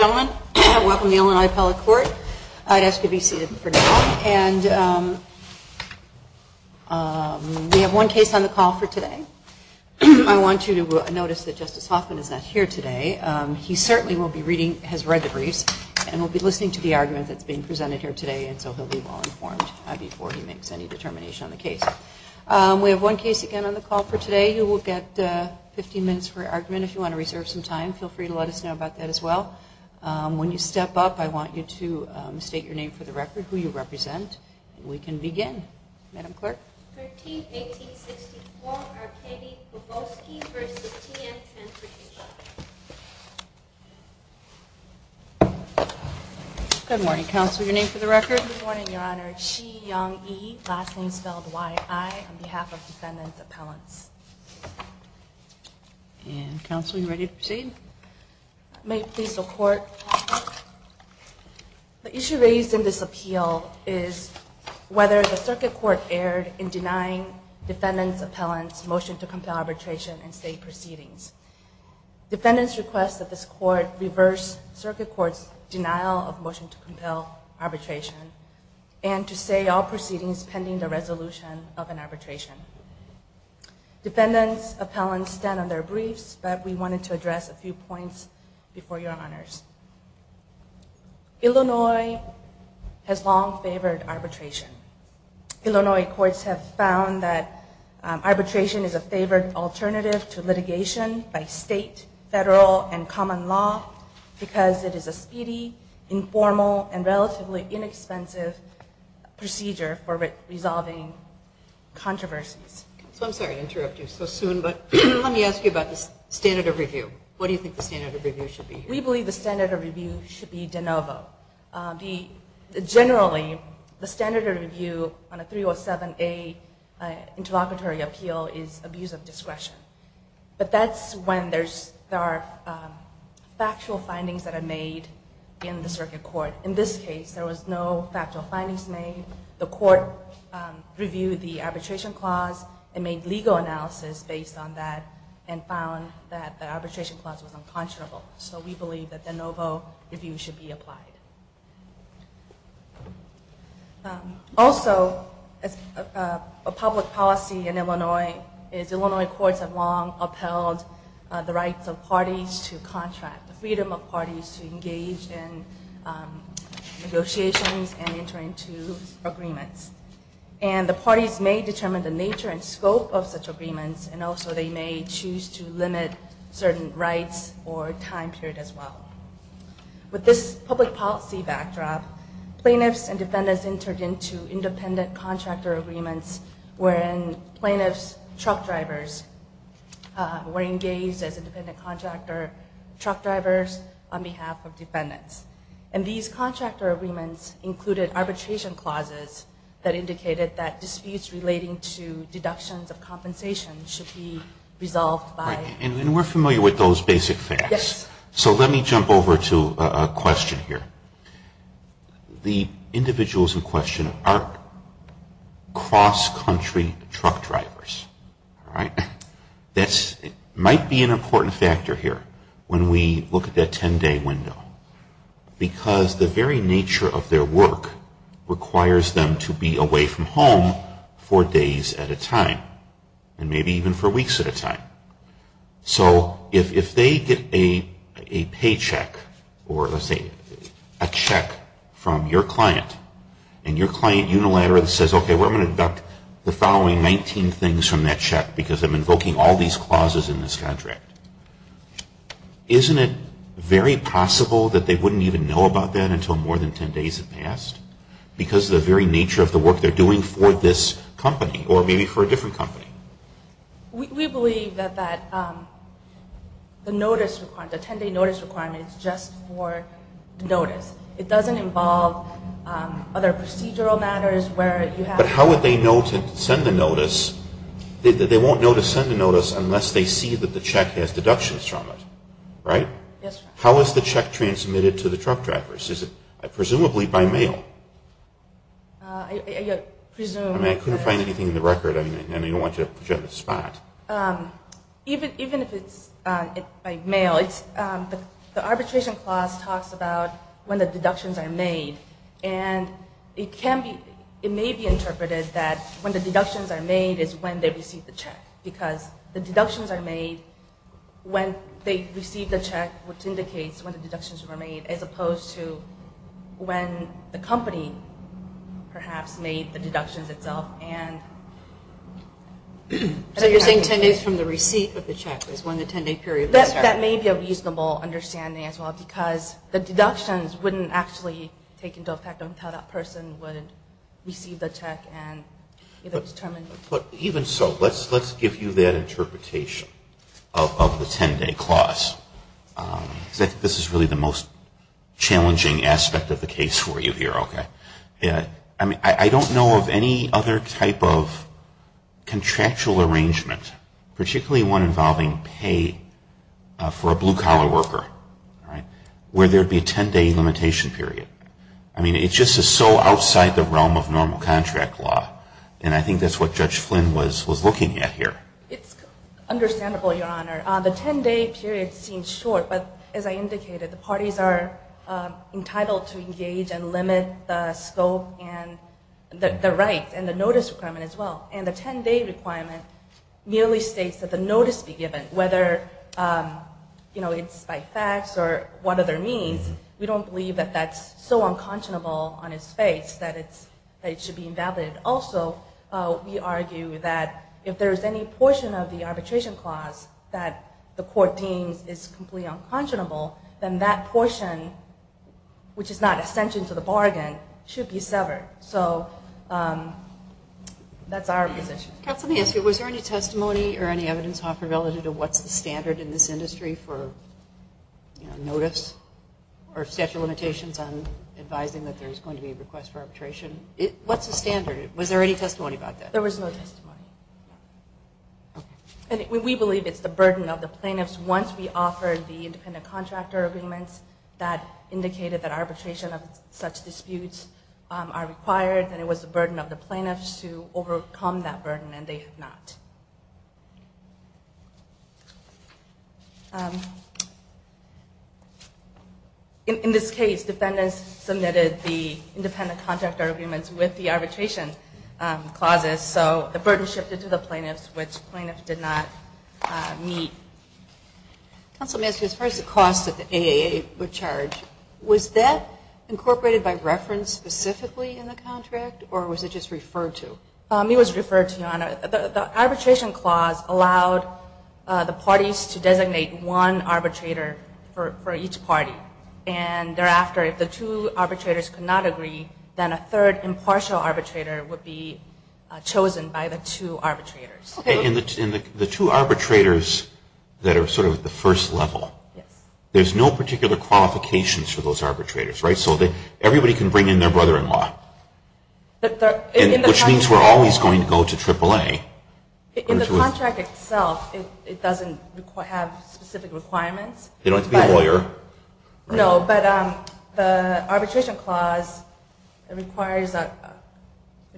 Ladies and gentlemen, welcome to Illinois Appellate Court. I'd ask you to be seated for now. We have one case on the call for today. I want you to notice that Justice Hoffman is not here today. He certainly has read the briefs and will be listening to the argument that's being presented here today, and so he'll be well informed before he makes any determination on the case. We have one case again on the call for today. You will get 15 minutes for your argument. If you want to reserve some time, feel free to let us know about that as well. When you step up, I want you to state your name for the record, who you represent, and we can begin. Madam Clerk? Thirteenth, 1864, Arkady Potiyevskiy v. TM Transportation. Good morning, Counselor. Your name for the record? Good morning, Your Honor. Chi Young Yi, last name spelled Y-I, on behalf of Defendant Appellants. And Counselor, you ready to proceed? May it please the Court, the issue raised in this appeal is whether the Circuit Court erred in denying Defendant Appellants' motion to compel arbitration and state proceedings. Defendants request that this Court reverse Circuit Court's denial of motion to compel arbitration and to say all proceedings pending the resolution of an arbitration. Defendants Appellants stand on their briefs, but we wanted to address a few points before Your Honors. Illinois has long favored arbitration. Illinois courts have found that arbitration is a favored alternative to litigation by state, federal, and common law because it is a speedy, informal, and relatively inexpensive procedure for resolving controversies. I'm sorry to interrupt you so soon, but let me ask you about the standard of review. What do you think the standard of review should be? We believe the standard of review should be de novo. Generally, the standard of review on a 307A interlocutory appeal is abuse of discretion. But that's when there are factual findings that are made in the Circuit Court. In this case, there were no factual findings made. The Court reviewed the arbitration clause and made legal analysis based on that and found that the arbitration clause was unconscionable. So we believe that de novo review should be applied. Also, a public policy in Illinois is Illinois courts have long upheld the rights of parties to contract, the freedom of parties to engage in negotiations and enter into agreements. And the parties may determine the nature and scope of such agreements and also they may choose to limit certain rights or time period as well. With this public policy backdrop, plaintiffs and defendants entered into independent contractor agreements wherein plaintiffs' truck drivers were engaged as independent contractor truck drivers on behalf of defendants. And these contractor agreements included arbitration clauses that indicated that disputes relating to deductions of compensation should be resolved by... And we're familiar with those basic things. Yes. So let me jump over to a question here. The individuals in question are cross-country truck drivers. All right? That might be an important factor here when we look at that 10-day window because the very nature of their work requires them to be away from home for days at a time and maybe even for weeks at a time. So if they get a paycheck or let's say a check from your client and your client unilaterally says, okay, we're going to deduct the following 19 things from that check because I'm invoking all these clauses in this contract, isn't it very possible that they wouldn't even know about that until more than 10 days have passed because of the very nature of the work they're doing for this company or maybe for a different company? We believe that the 10-day notice requirement is just for the notice. It doesn't involve other procedural matters where you have... But how would they know to send the notice? They won't know to send the notice unless they see that the check has deductions from it, right? Yes, sir. How is the check transmitted to the truck drivers? Is it presumably by mail? I presume... I couldn't find anything in the record. I don't want you to put you on the spot. Even if it's by mail, the arbitration clause talks about when the deductions are made and it may be interpreted that when the deductions are made is when they receive the check because the deductions are made when they receive the check, which indicates when the deductions were made as opposed to when the company perhaps made the deductions itself and... So you're saying 10 days from the receipt of the check is when the 10-day period... That may be a reasonable understanding as well because the deductions wouldn't actually take into effect until that person would receive the check and either determine... But even so, let's give you that interpretation of the 10-day clause because I think this is really the most challenging aspect of the case for you here. I don't know of any other type of contractual arrangement, particularly one involving pay for a blue-collar worker, where there would be a 10-day limitation period. I mean, it just is so outside the realm of normal contract law and I think that's what Judge Flynn was looking at here. It's understandable, Your Honor. The 10-day period seems short, but as I indicated, the parties are entitled to engage and limit the scope and the rights and the notice requirement as well. And the 10-day requirement merely states that the notice be given, whether it's by fax or what other means. We don't believe that that's so unconscionable on its face that it should be invalid. Also, we argue that if there is any portion of the arbitration clause that the court deems is completely unconscionable, then that portion, which is not an extension to the bargain, should be severed. So that's our position. Counsel, let me ask you. Was there any testimony or any evidence offered relative to what's the standard in this industry for notice or statute of limitations on advising that there's going to be a request for arbitration? What's the standard? Was there any testimony about that? There was no testimony. And we believe it's the burden of the plaintiffs. Once we offer the independent contractor agreements that indicated that arbitration of such disputes are required, then it was the burden of the plaintiffs to overcome that burden, and they have not. In this case, defendants submitted the independent contractor agreements with the arbitration clauses, so the burden shifted to the plaintiffs, which plaintiffs did not meet. Counsel, let me ask you. As far as the cost that the AAA would charge, was that incorporated by reference specifically in the contract, or was it just referred to? It was referred to, Your Honor. The arbitration clause allowed the parties to designate one arbitrator for each party, and thereafter, if the two arbitrators could not agree, then a third impartial arbitrator would be chosen by the two arbitrators. Okay. And the two arbitrators that are sort of at the first level, there's no particular qualifications for those arbitrators, right? So everybody can bring in their brother-in-law, which means we're always going to go to AAA. In the contract itself, it doesn't have specific requirements. They don't have to be a lawyer. No, but the arbitration clause requires, I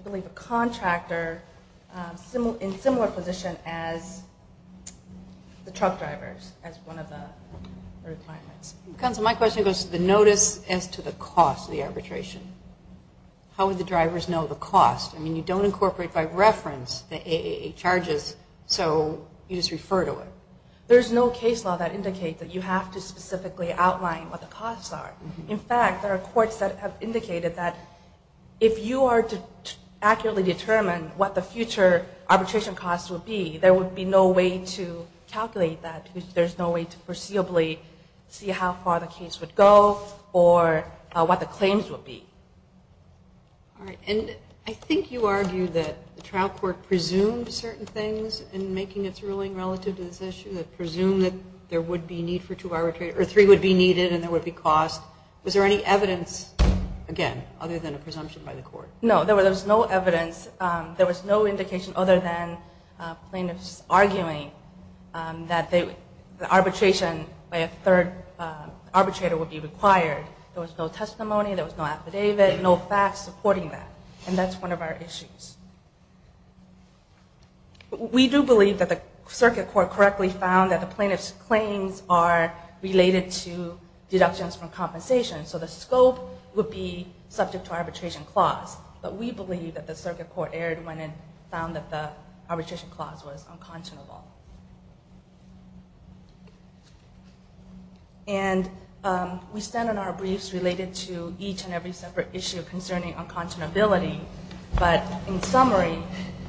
believe, a contractor in similar position as the truck drivers as one of the requirements. Counsel, my question goes to the notice as to the cost of the arbitration. How would the drivers know the cost? I mean, you don't incorporate by reference the AAA charges, so you just refer to it. There's no case law that indicates that you have to specifically outline what the costs are. In fact, there are courts that have indicated that if you are to accurately determine what the future arbitration costs would be, there would be no way to calculate that, because there's no way to foreseeably see how far the case would go or what the claims would be. All right. And I think you argued that the trial court presumed certain things in making its ruling relative to this issue, that presumed that there would be need for two arbitrators or three would be needed and there would be cost. Was there any evidence, again, other than a presumption by the court? No, there was no evidence. There was no indication other than plaintiffs arguing that the arbitration by a third arbitrator would be required. There was no testimony. There was no affidavit, no facts supporting that, and that's one of our issues. We do believe that the circuit court correctly found that the plaintiff's claims are related to deductions from compensation, so the scope would be subject to arbitration clause. But we believe that the circuit court erred when it found that the arbitration clause was unconscionable. And we stand on our briefs related to each and every separate issue concerning unconscionability. But in summary,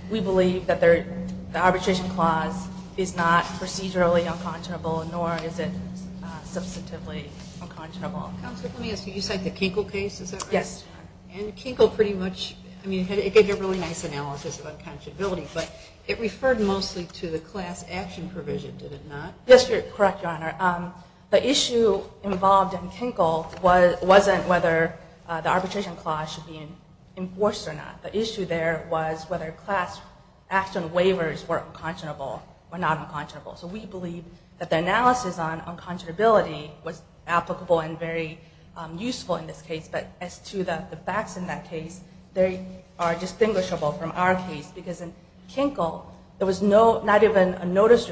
we believe that the arbitration clause is not procedurally unconscionable, nor is it substantively unconscionable. Counselor, let me ask you, you cite the Kinkle case, is that right? Yes. And Kinkle pretty much, I mean, it gave you a really nice analysis of unconscionability, but it referred mostly to the class action provision, did it not? Yes, you're correct, Your Honor. The issue involved in Kinkle wasn't whether the arbitration clause should be enforced or not. The issue there was whether class action waivers were unconscionable or not unconscionable. So we believe that the analysis on unconscionability was applicable and very useful in this case. But as to the facts in that case, they are distinguishable from our case. Because in Kinkle, there was not even a notice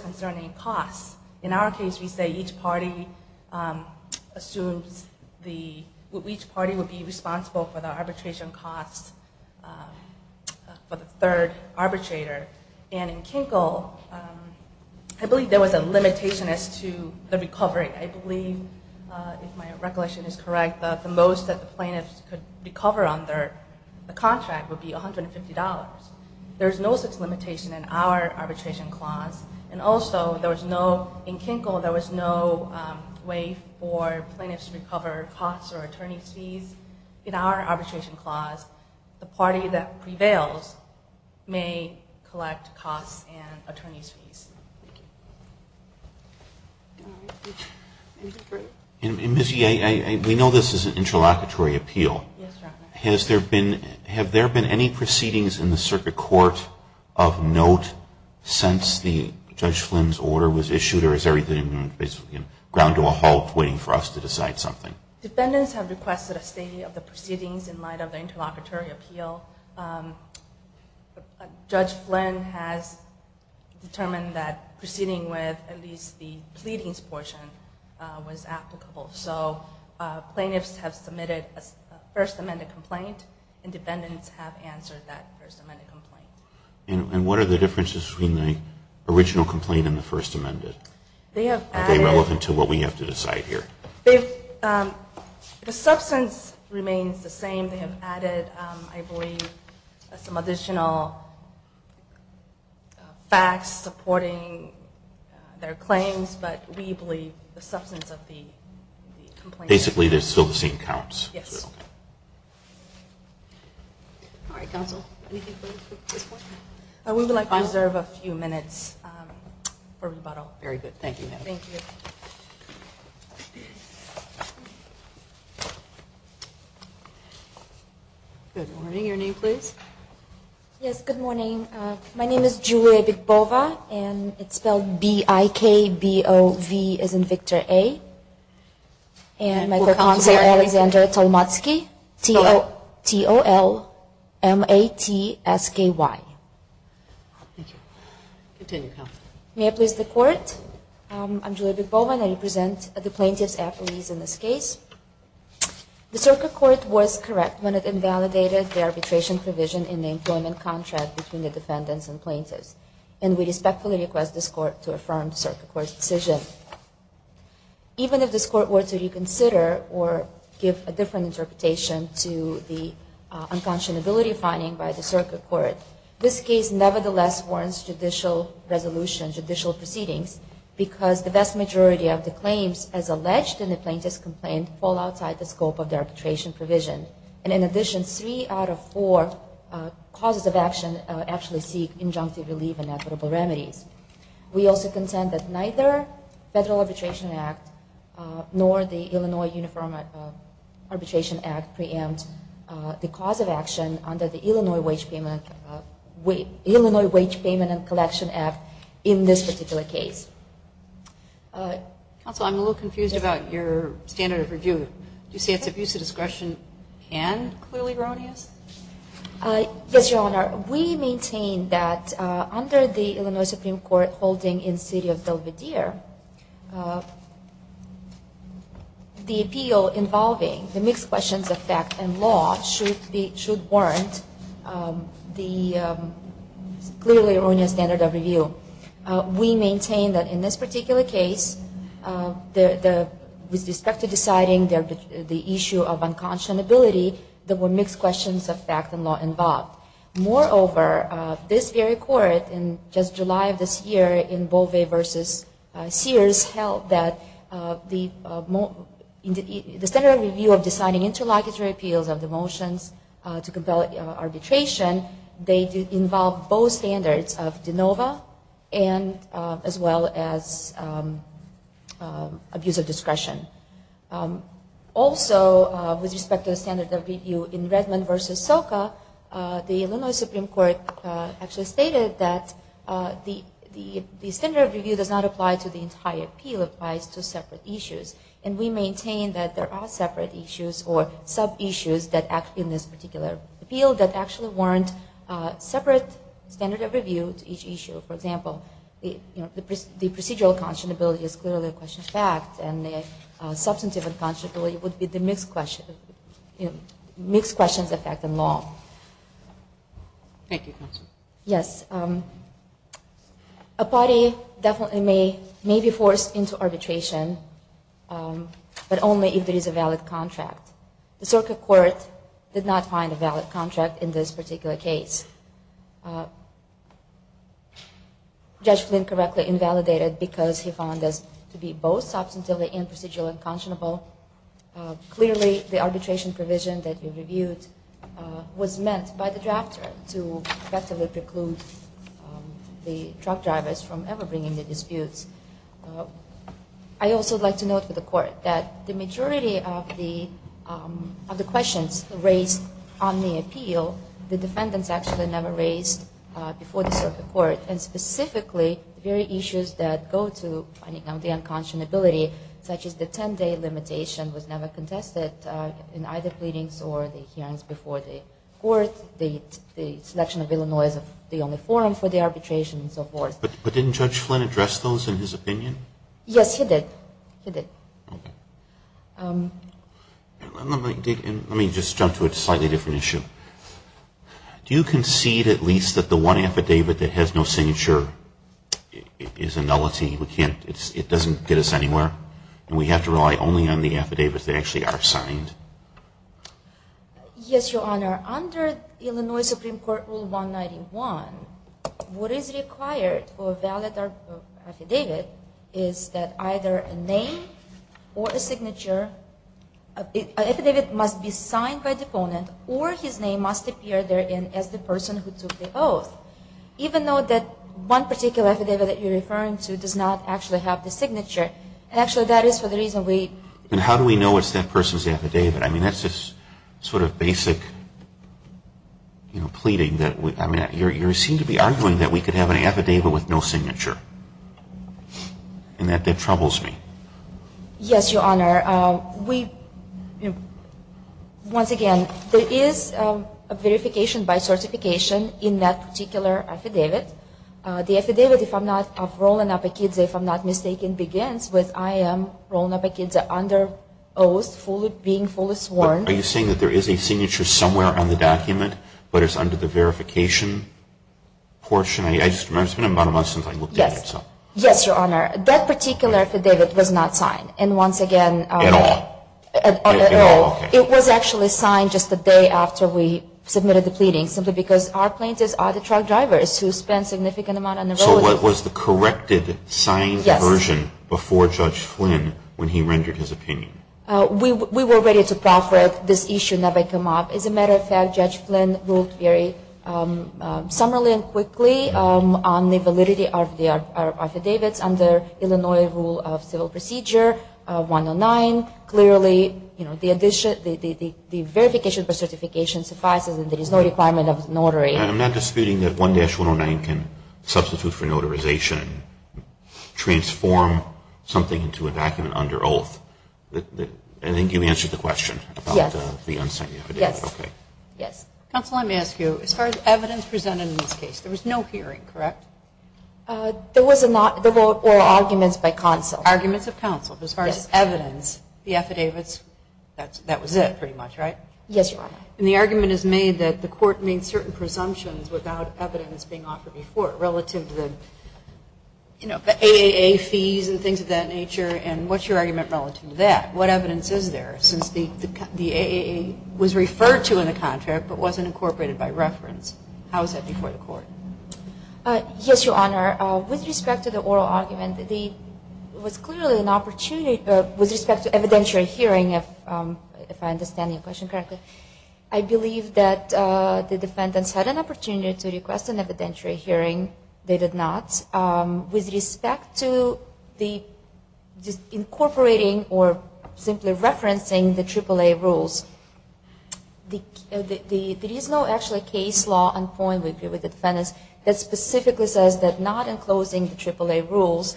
concerning costs. In our case, we say each party assumes the – each party would be responsible for the arbitration costs for the third arbitrator. And in Kinkle, I believe there was a limitation as to the recovery. I believe, if my recollection is correct, that the most that the plaintiffs could recover under the contract would be $150. There's no such limitation in our arbitration clause. And also, there was no – in Kinkle, there was no way for plaintiffs to recover costs or attorney's fees. In our arbitration clause, the party that prevails may collect costs and attorney's fees. Thank you. Ms. Yee, we know this is an interlocutory appeal. Yes, Your Honor. Has there been – have there been any proceedings in the circuit court of note since Judge Flynn's order was issued? Or is everything basically ground to a halt waiting for us to decide something? Defendants have requested a statement of the proceedings in light of the interlocutory appeal. Judge Flynn has determined that proceeding with at least the pleadings portion was applicable. So plaintiffs have submitted a First Amendment complaint and defendants have answered that First Amendment complaint. And what are the differences between the original complaint and the First Amendment? Are they relevant to what we have to decide here? The substance remains the same. They have added, I believe, some additional facts supporting their claims, but we believe the substance of the complaint – Basically, they're still the same counts. Yes. All right, counsel. Anything further at this point? We would like to reserve a few minutes for rebuttal. Very good. Thank you, ma'am. Thank you. Good morning. Your name, please. Yes. Good morning. My name is Julia Bigbova, and it's spelled B-I-K-B-O-V as in Victor A. And my co-counsel Alexander Tolmatsky, T-O-L-M-A-T-S-K-Y. Thank you. Continue, counsel. May I please the court? I'm Julia Bigbova, and I represent the plaintiff's affilies in this case. The circuit court was correct when it invalidated the arbitration provision in the employment contract between the defendants and plaintiffs, and we respectfully request this court to affirm the circuit court's decision. Even if this court were to reconsider or give a different interpretation to the unconscionability finding by the circuit court, this case nevertheless warrants judicial resolution, judicial proceedings, because the vast majority of the claims as alleged in the plaintiff's complaint fall outside the scope of the arbitration provision. And in addition, three out of four causes of action actually seek injunctive relief and equitable remedies. We also contend that neither Federal Arbitration Act nor the Illinois Uniform Arbitration Act preempt the cause of action under the Illinois Wage Payment and Collection Act in this particular case. Counsel, I'm a little confused about your standard of review. Do you say it's abuse of discretion and clearly erroneous? Yes, Your Honor. We maintain that under the Illinois Supreme Court holding in the city of Delvedere, the appeal involving the mixed questions of fact and law should warrant the clearly erroneous standard of review. We maintain that in this particular case, with respect to deciding the issue of unconscionability, there were mixed questions of fact and law involved. Moreover, this very court in just July of this year in Bovey v. Sears held that the standard of review of deciding interlocutory appeals of the motions to compel arbitration, they involve both standards of de novo as well as abuse of discretion. Also, with respect to the standard of review in Redmond v. Soka, the Illinois Supreme Court actually stated that the standard of review does not apply to the entire appeal. It applies to separate issues. And we maintain that there are separate issues or sub-issues that act in this particular appeal that actually warrant separate standard of review to each issue. For example, the procedural unconscionability is clearly a question of fact and the substantive unconscionability would be the mixed questions of fact and law. Thank you, counsel. Yes. A party definitely may be forced into arbitration, but only if there is a valid contract. The Soka court did not find a valid contract in this particular case. Judge Flynn correctly invalidated because he found this to be both substantively and procedurally unconscionable. Clearly, the arbitration provision that you reviewed was meant by the drafter to effectively preclude the truck drivers from ever bringing the disputes. I also would like to note for the court that the majority of the questions raised on the appeal, the defendants actually never raised before the Soka court, and specifically, the very issues that go to finding out the unconscionability, such as the 10-day limitation was never contested in either pleadings or the hearings before the court. The selection of Illinois as the only forum for the arbitration and so forth. But didn't Judge Flynn address those in his opinion? Yes, he did. He did. Okay. Let me just jump to a slightly different issue. Do you concede at least that the one affidavit that has no signature is a nullity? It doesn't get us anywhere, and we have to rely only on the affidavits that actually are signed? Yes, Your Honor. Under Illinois Supreme Court Rule 191, what is required for a valid affidavit is that either a name or a signature, an affidavit must be signed by the opponent or his name must appear therein as the person who took the oath. Even though that one particular affidavit that you're referring to does not actually have the signature. Actually, that is for the reason we... And how do we know it's that person's affidavit? I mean, that's just sort of basic pleading. You seem to be arguing that we could have an affidavit with no signature, and that troubles me. Yes, Your Honor. Once again, there is a verification by certification in that particular affidavit. The affidavit, if I'm not mistaken, begins with, I am rolling up a kid's under oath, being fully sworn. Are you saying that there is a signature somewhere on the document, but it's under the verification portion? I just remember it's been about a month since I looked at it. Yes, Your Honor. That particular affidavit was not signed. And once again... At all? At all. Okay. It was actually signed just a day after we submitted the pleading, simply because our plaintiffs are the truck drivers who spend a significant amount on the road. So what was the corrected signed version before Judge Flynn when he rendered his opinion? We were ready to proffer it. This issue never came up. As a matter of fact, Judge Flynn ruled very summarily and quickly on the validity of the affidavits under Illinois Rule of Civil Procedure 109. Clearly the verification by certification suffices and there is no requirement of notary. I'm not disputing that 1-109 can substitute for notarization, transform something into a document under oath. I think you answered the question about the unsigned affidavit. Yes. Counsel, let me ask you. As far as evidence presented in this case, there was no hearing, correct? There was not the vote or arguments by counsel. Arguments of counsel. As far as evidence, the affidavits, that was it pretty much, right? Yes, Your Honor. And the argument is made that the court made certain presumptions without evidence being offered before relative to the AAA fees and things of that nature, and what's your argument relative to that? What evidence is there since the AAA was referred to in the contract but wasn't incorporated by reference? How is that before the court? Yes, Your Honor. With respect to the oral argument, there was clearly an opportunity with respect to evidentiary hearing, if I understand your question correctly. I believe that the defendants had an opportunity to request an evidentiary hearing. They did not. With respect to the incorporating or simply referencing the AAA rules, there is no actually case law on point with the defendants that specifically says that not enclosing the AAA rules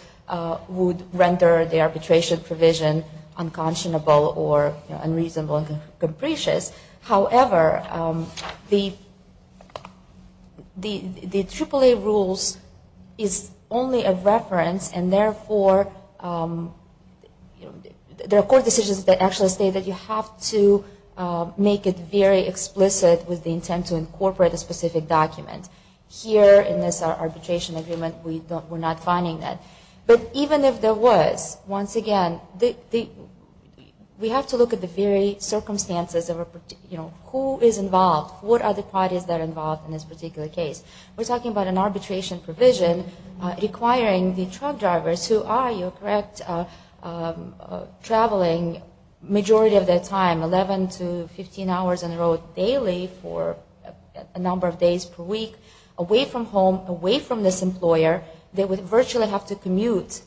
would render the arbitration provision unconscionable or unreasonable and capricious. However, the AAA rules is only a reference and therefore there are court decisions that actually say that you have to make it very explicit with the intent to incorporate a specific document. Here in this arbitration agreement, we're not finding that. But even if there was, once again, we have to look at the very circumstances of who is involved. What are the parties that are involved in this particular case? We're talking about an arbitration provision requiring the truck drivers who are, you're correct, traveling majority of their time, 11 to 15 hours in a row daily for a number of days per week, away from home, away from this employer, they would virtually have to commute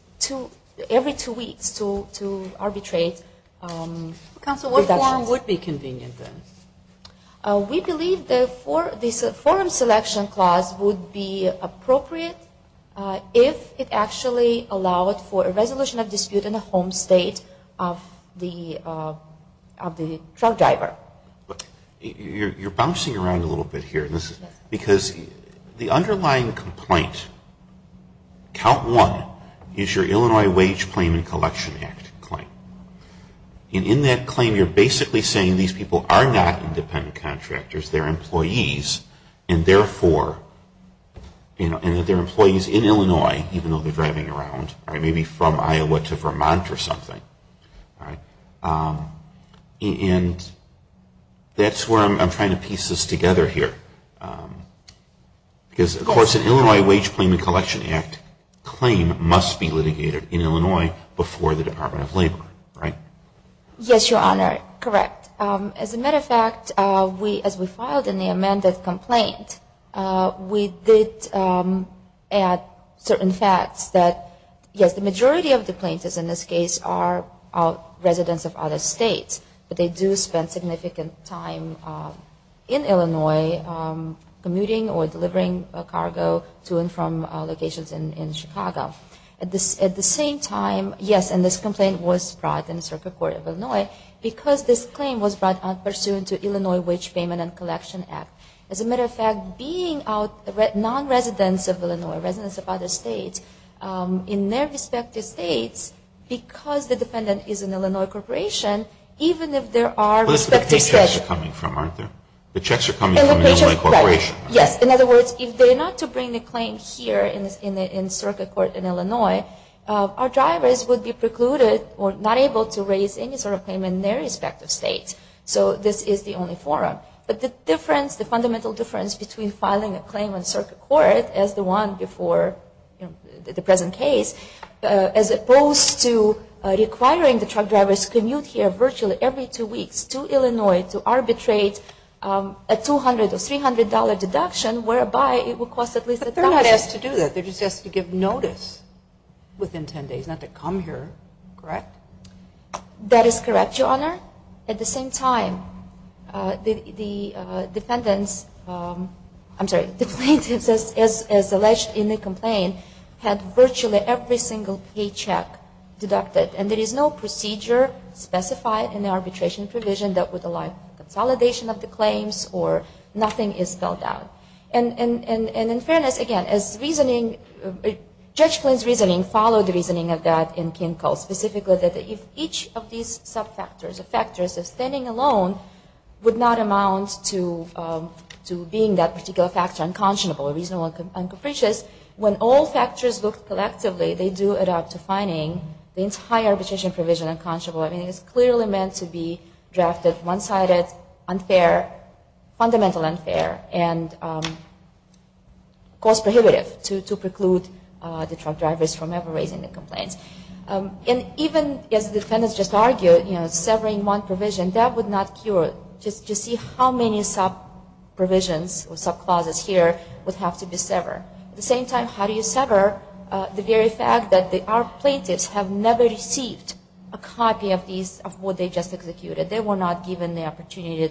every two weeks to arbitrate. Counsel, what form would be convenient then? We believe the forum selection clause would be appropriate if it actually allowed for a resolution of dispute in the home state of the truck driver. You're bouncing around a little bit here. Because the underlying complaint, count one, is your Illinois Wage Claim and Collection Act claim. And in that claim, you're basically saying these people are not independent contractors, they're employees. And therefore, and that they're employees in Illinois, even though they're driving around, maybe from Iowa to Vermont or something. And that's where I'm trying to piece this together here. Because, of course, an Illinois Wage Claim and Collection Act claim must be Yes, Your Honor, correct. As a matter of fact, as we filed in the amended complaint, we did add certain facts that, yes, the majority of the plaintiffs in this case are residents of other states. But they do spend significant time in Illinois commuting or delivering cargo to and from locations in Chicago. At the same time, yes, and this complaint was brought in the Circuit Court of Illinois because this claim was brought out pursuant to Illinois Wage Payment and Collection Act. As a matter of fact, being non-residents of Illinois, residents of other states, in their respective states, because the defendant is an Illinois corporation, even if there are respective states Those are the paychecks they're coming from, aren't they? The checks are coming from an Illinois corporation. Yes. In other words, if they're not to bring the claim here in Circuit Court in Illinois, our drivers would be precluded or not able to raise any sort of claim in their respective states. So this is the only forum. But the difference, the fundamental difference between filing a claim in Circuit Court as the one before the present case, as opposed to requiring the truck drivers to commute here virtually every two weeks to Illinois to But they're not asked to do that. They're just asked to give notice within 10 days, not to come here. Correct? That is correct, Your Honor. At the same time, the defendants, I'm sorry, the plaintiffs, as alleged in the complaint, had virtually every single paycheck deducted. And there is no procedure specified in the arbitration provision that would And in fairness, again, as reasoning, Judge Flynn's reasoning followed the reasoning of that in Kinkel, specifically that if each of these subfactors or factors of standing alone would not amount to being that particular factor unconscionable or reasonable and capricious, when all factors looked collectively, they do add up to finding the entire arbitration provision unconscionable. I mean, it's clearly meant to be drafted one-sided, unfair, fundamental unfair, and cost-prohibitive to preclude the truck drivers from ever raising the complaints. And even, as the defendants just argued, severing one provision, that would not cure it. Just see how many sub-provisions or sub-clauses here would have to be severed. At the same time, how do you sever the very fact that our plaintiffs have never received a copy of what they just executed? They were not given the opportunity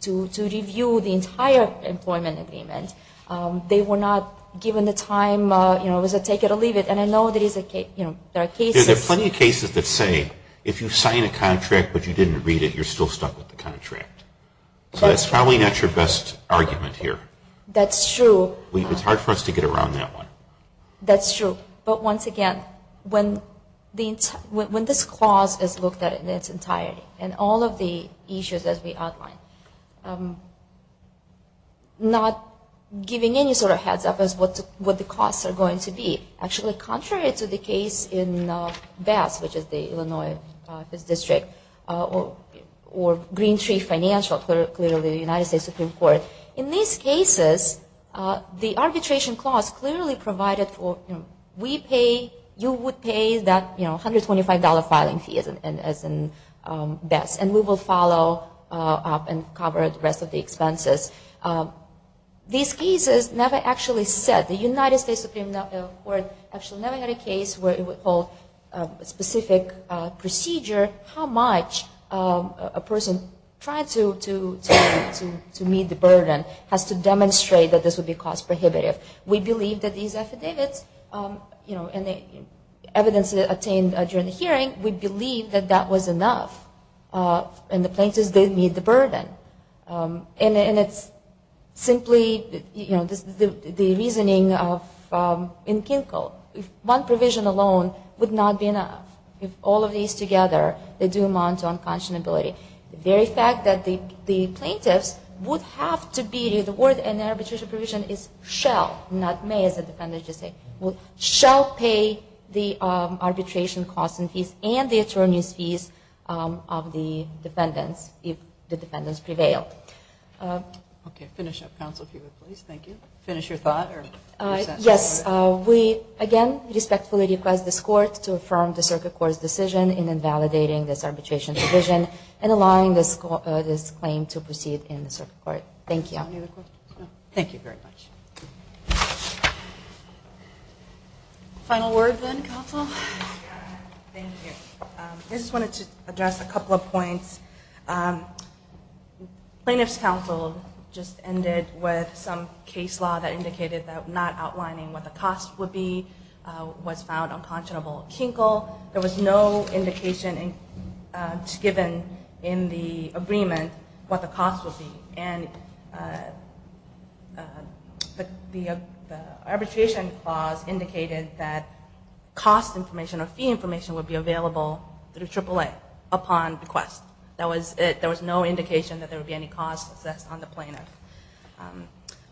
to review the entire employment agreement. They were not given the time, you know, was it take it or leave it. And I know there are cases. There are plenty of cases that say if you sign a contract but you didn't read it, you're still stuck with the contract. So that's probably not your best argument here. That's true. It's hard for us to get around that one. That's true. But once again, when this clause is looked at in its entirety and all of the issues as we outlined, not giving any sort of heads up as what the costs are going to be. Actually, contrary to the case in Bass, which is the Illinois District, or Green Tree Financial, clearly the United States Supreme Court, in these cases, the arbitration clause clearly provided for, you know, we pay, you would pay that, you know, $125 filing fee as in Bass. And we will follow up and cover the rest of the expenses. These cases never actually said, the United States Supreme Court actually never had a case where it would hold a specific procedure how much a person tried to meet the burden, has to demonstrate that this would be cost prohibitive. We believe that these affidavits, you know, and the evidence attained during the hearing, we believe that that was enough. And the plaintiffs did meet the burden. And it's simply, you know, the reasoning in Kinkel. One provision alone would not be enough. If all of these together, they do amount to unconscionability. The very fact that the plaintiffs would have to be, the word in the arbitration provision is shall, not may, as the defendants just say, shall pay the arbitration costs and fees and the attorney's fees of the defendants if the defendants prevail. Okay. Finish up, counsel, if you would, please. Thank you. Finish your thought or your sentence? Yes. We, again, respectfully request this court to affirm the circuit court's decision in invalidating this arbitration provision and allowing this claim to proceed in the circuit court. Thank you. Any other questions? No. Thank you very much. Final word then, counsel. Thank you. I just wanted to address a couple of points. Plaintiff's counsel just ended with some case law that indicated that not outlining what the cost would be was found unconscionable kinkle. There was no indication given in the agreement what the cost would be. And the arbitration clause indicated that cost information or fee information would be available through AAA upon request. There was no indication that there would be any cost assessed on the plaintiff.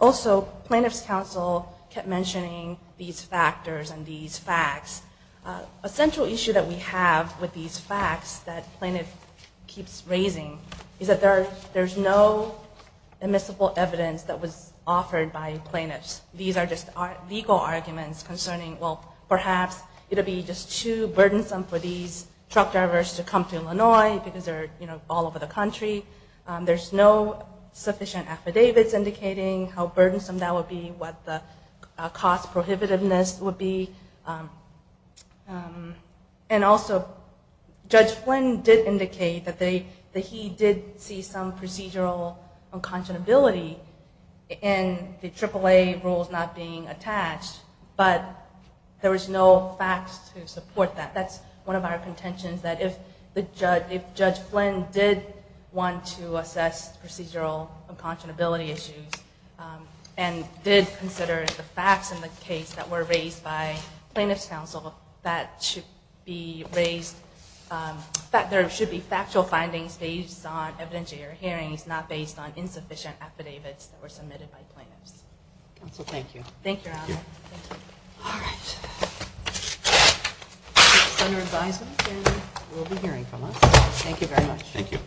Also, plaintiff's counsel kept mentioning these factors and these facts. A central issue that we have with these facts that plaintiff keeps raising is that there's no admissible evidence that was offered by plaintiffs. These are just legal arguments concerning, well, perhaps it would be just too burdensome for these truck drivers to come to Illinois because they're, you know, all over the country. There's no sufficient affidavits indicating how burdensome that would be, what the cost prohibitiveness would be. And also, Judge Flynn did indicate that he did see some procedural unconscionability in the AAA rules not being attached, but there was no facts to support that. That's one of our contentions, that if Judge Flynn did want to assess procedural unconscionability issues and did consider the facts in the case that were raised by plaintiff's counsel, that should be raised, that there should be factual findings based on evidentiary hearings, not based on insufficient affidavits that were submitted by plaintiffs. Counsel, thank you. Thank you, Adam. All right. This is under advisement and will be hearing from us. Thank you very much. Thank you.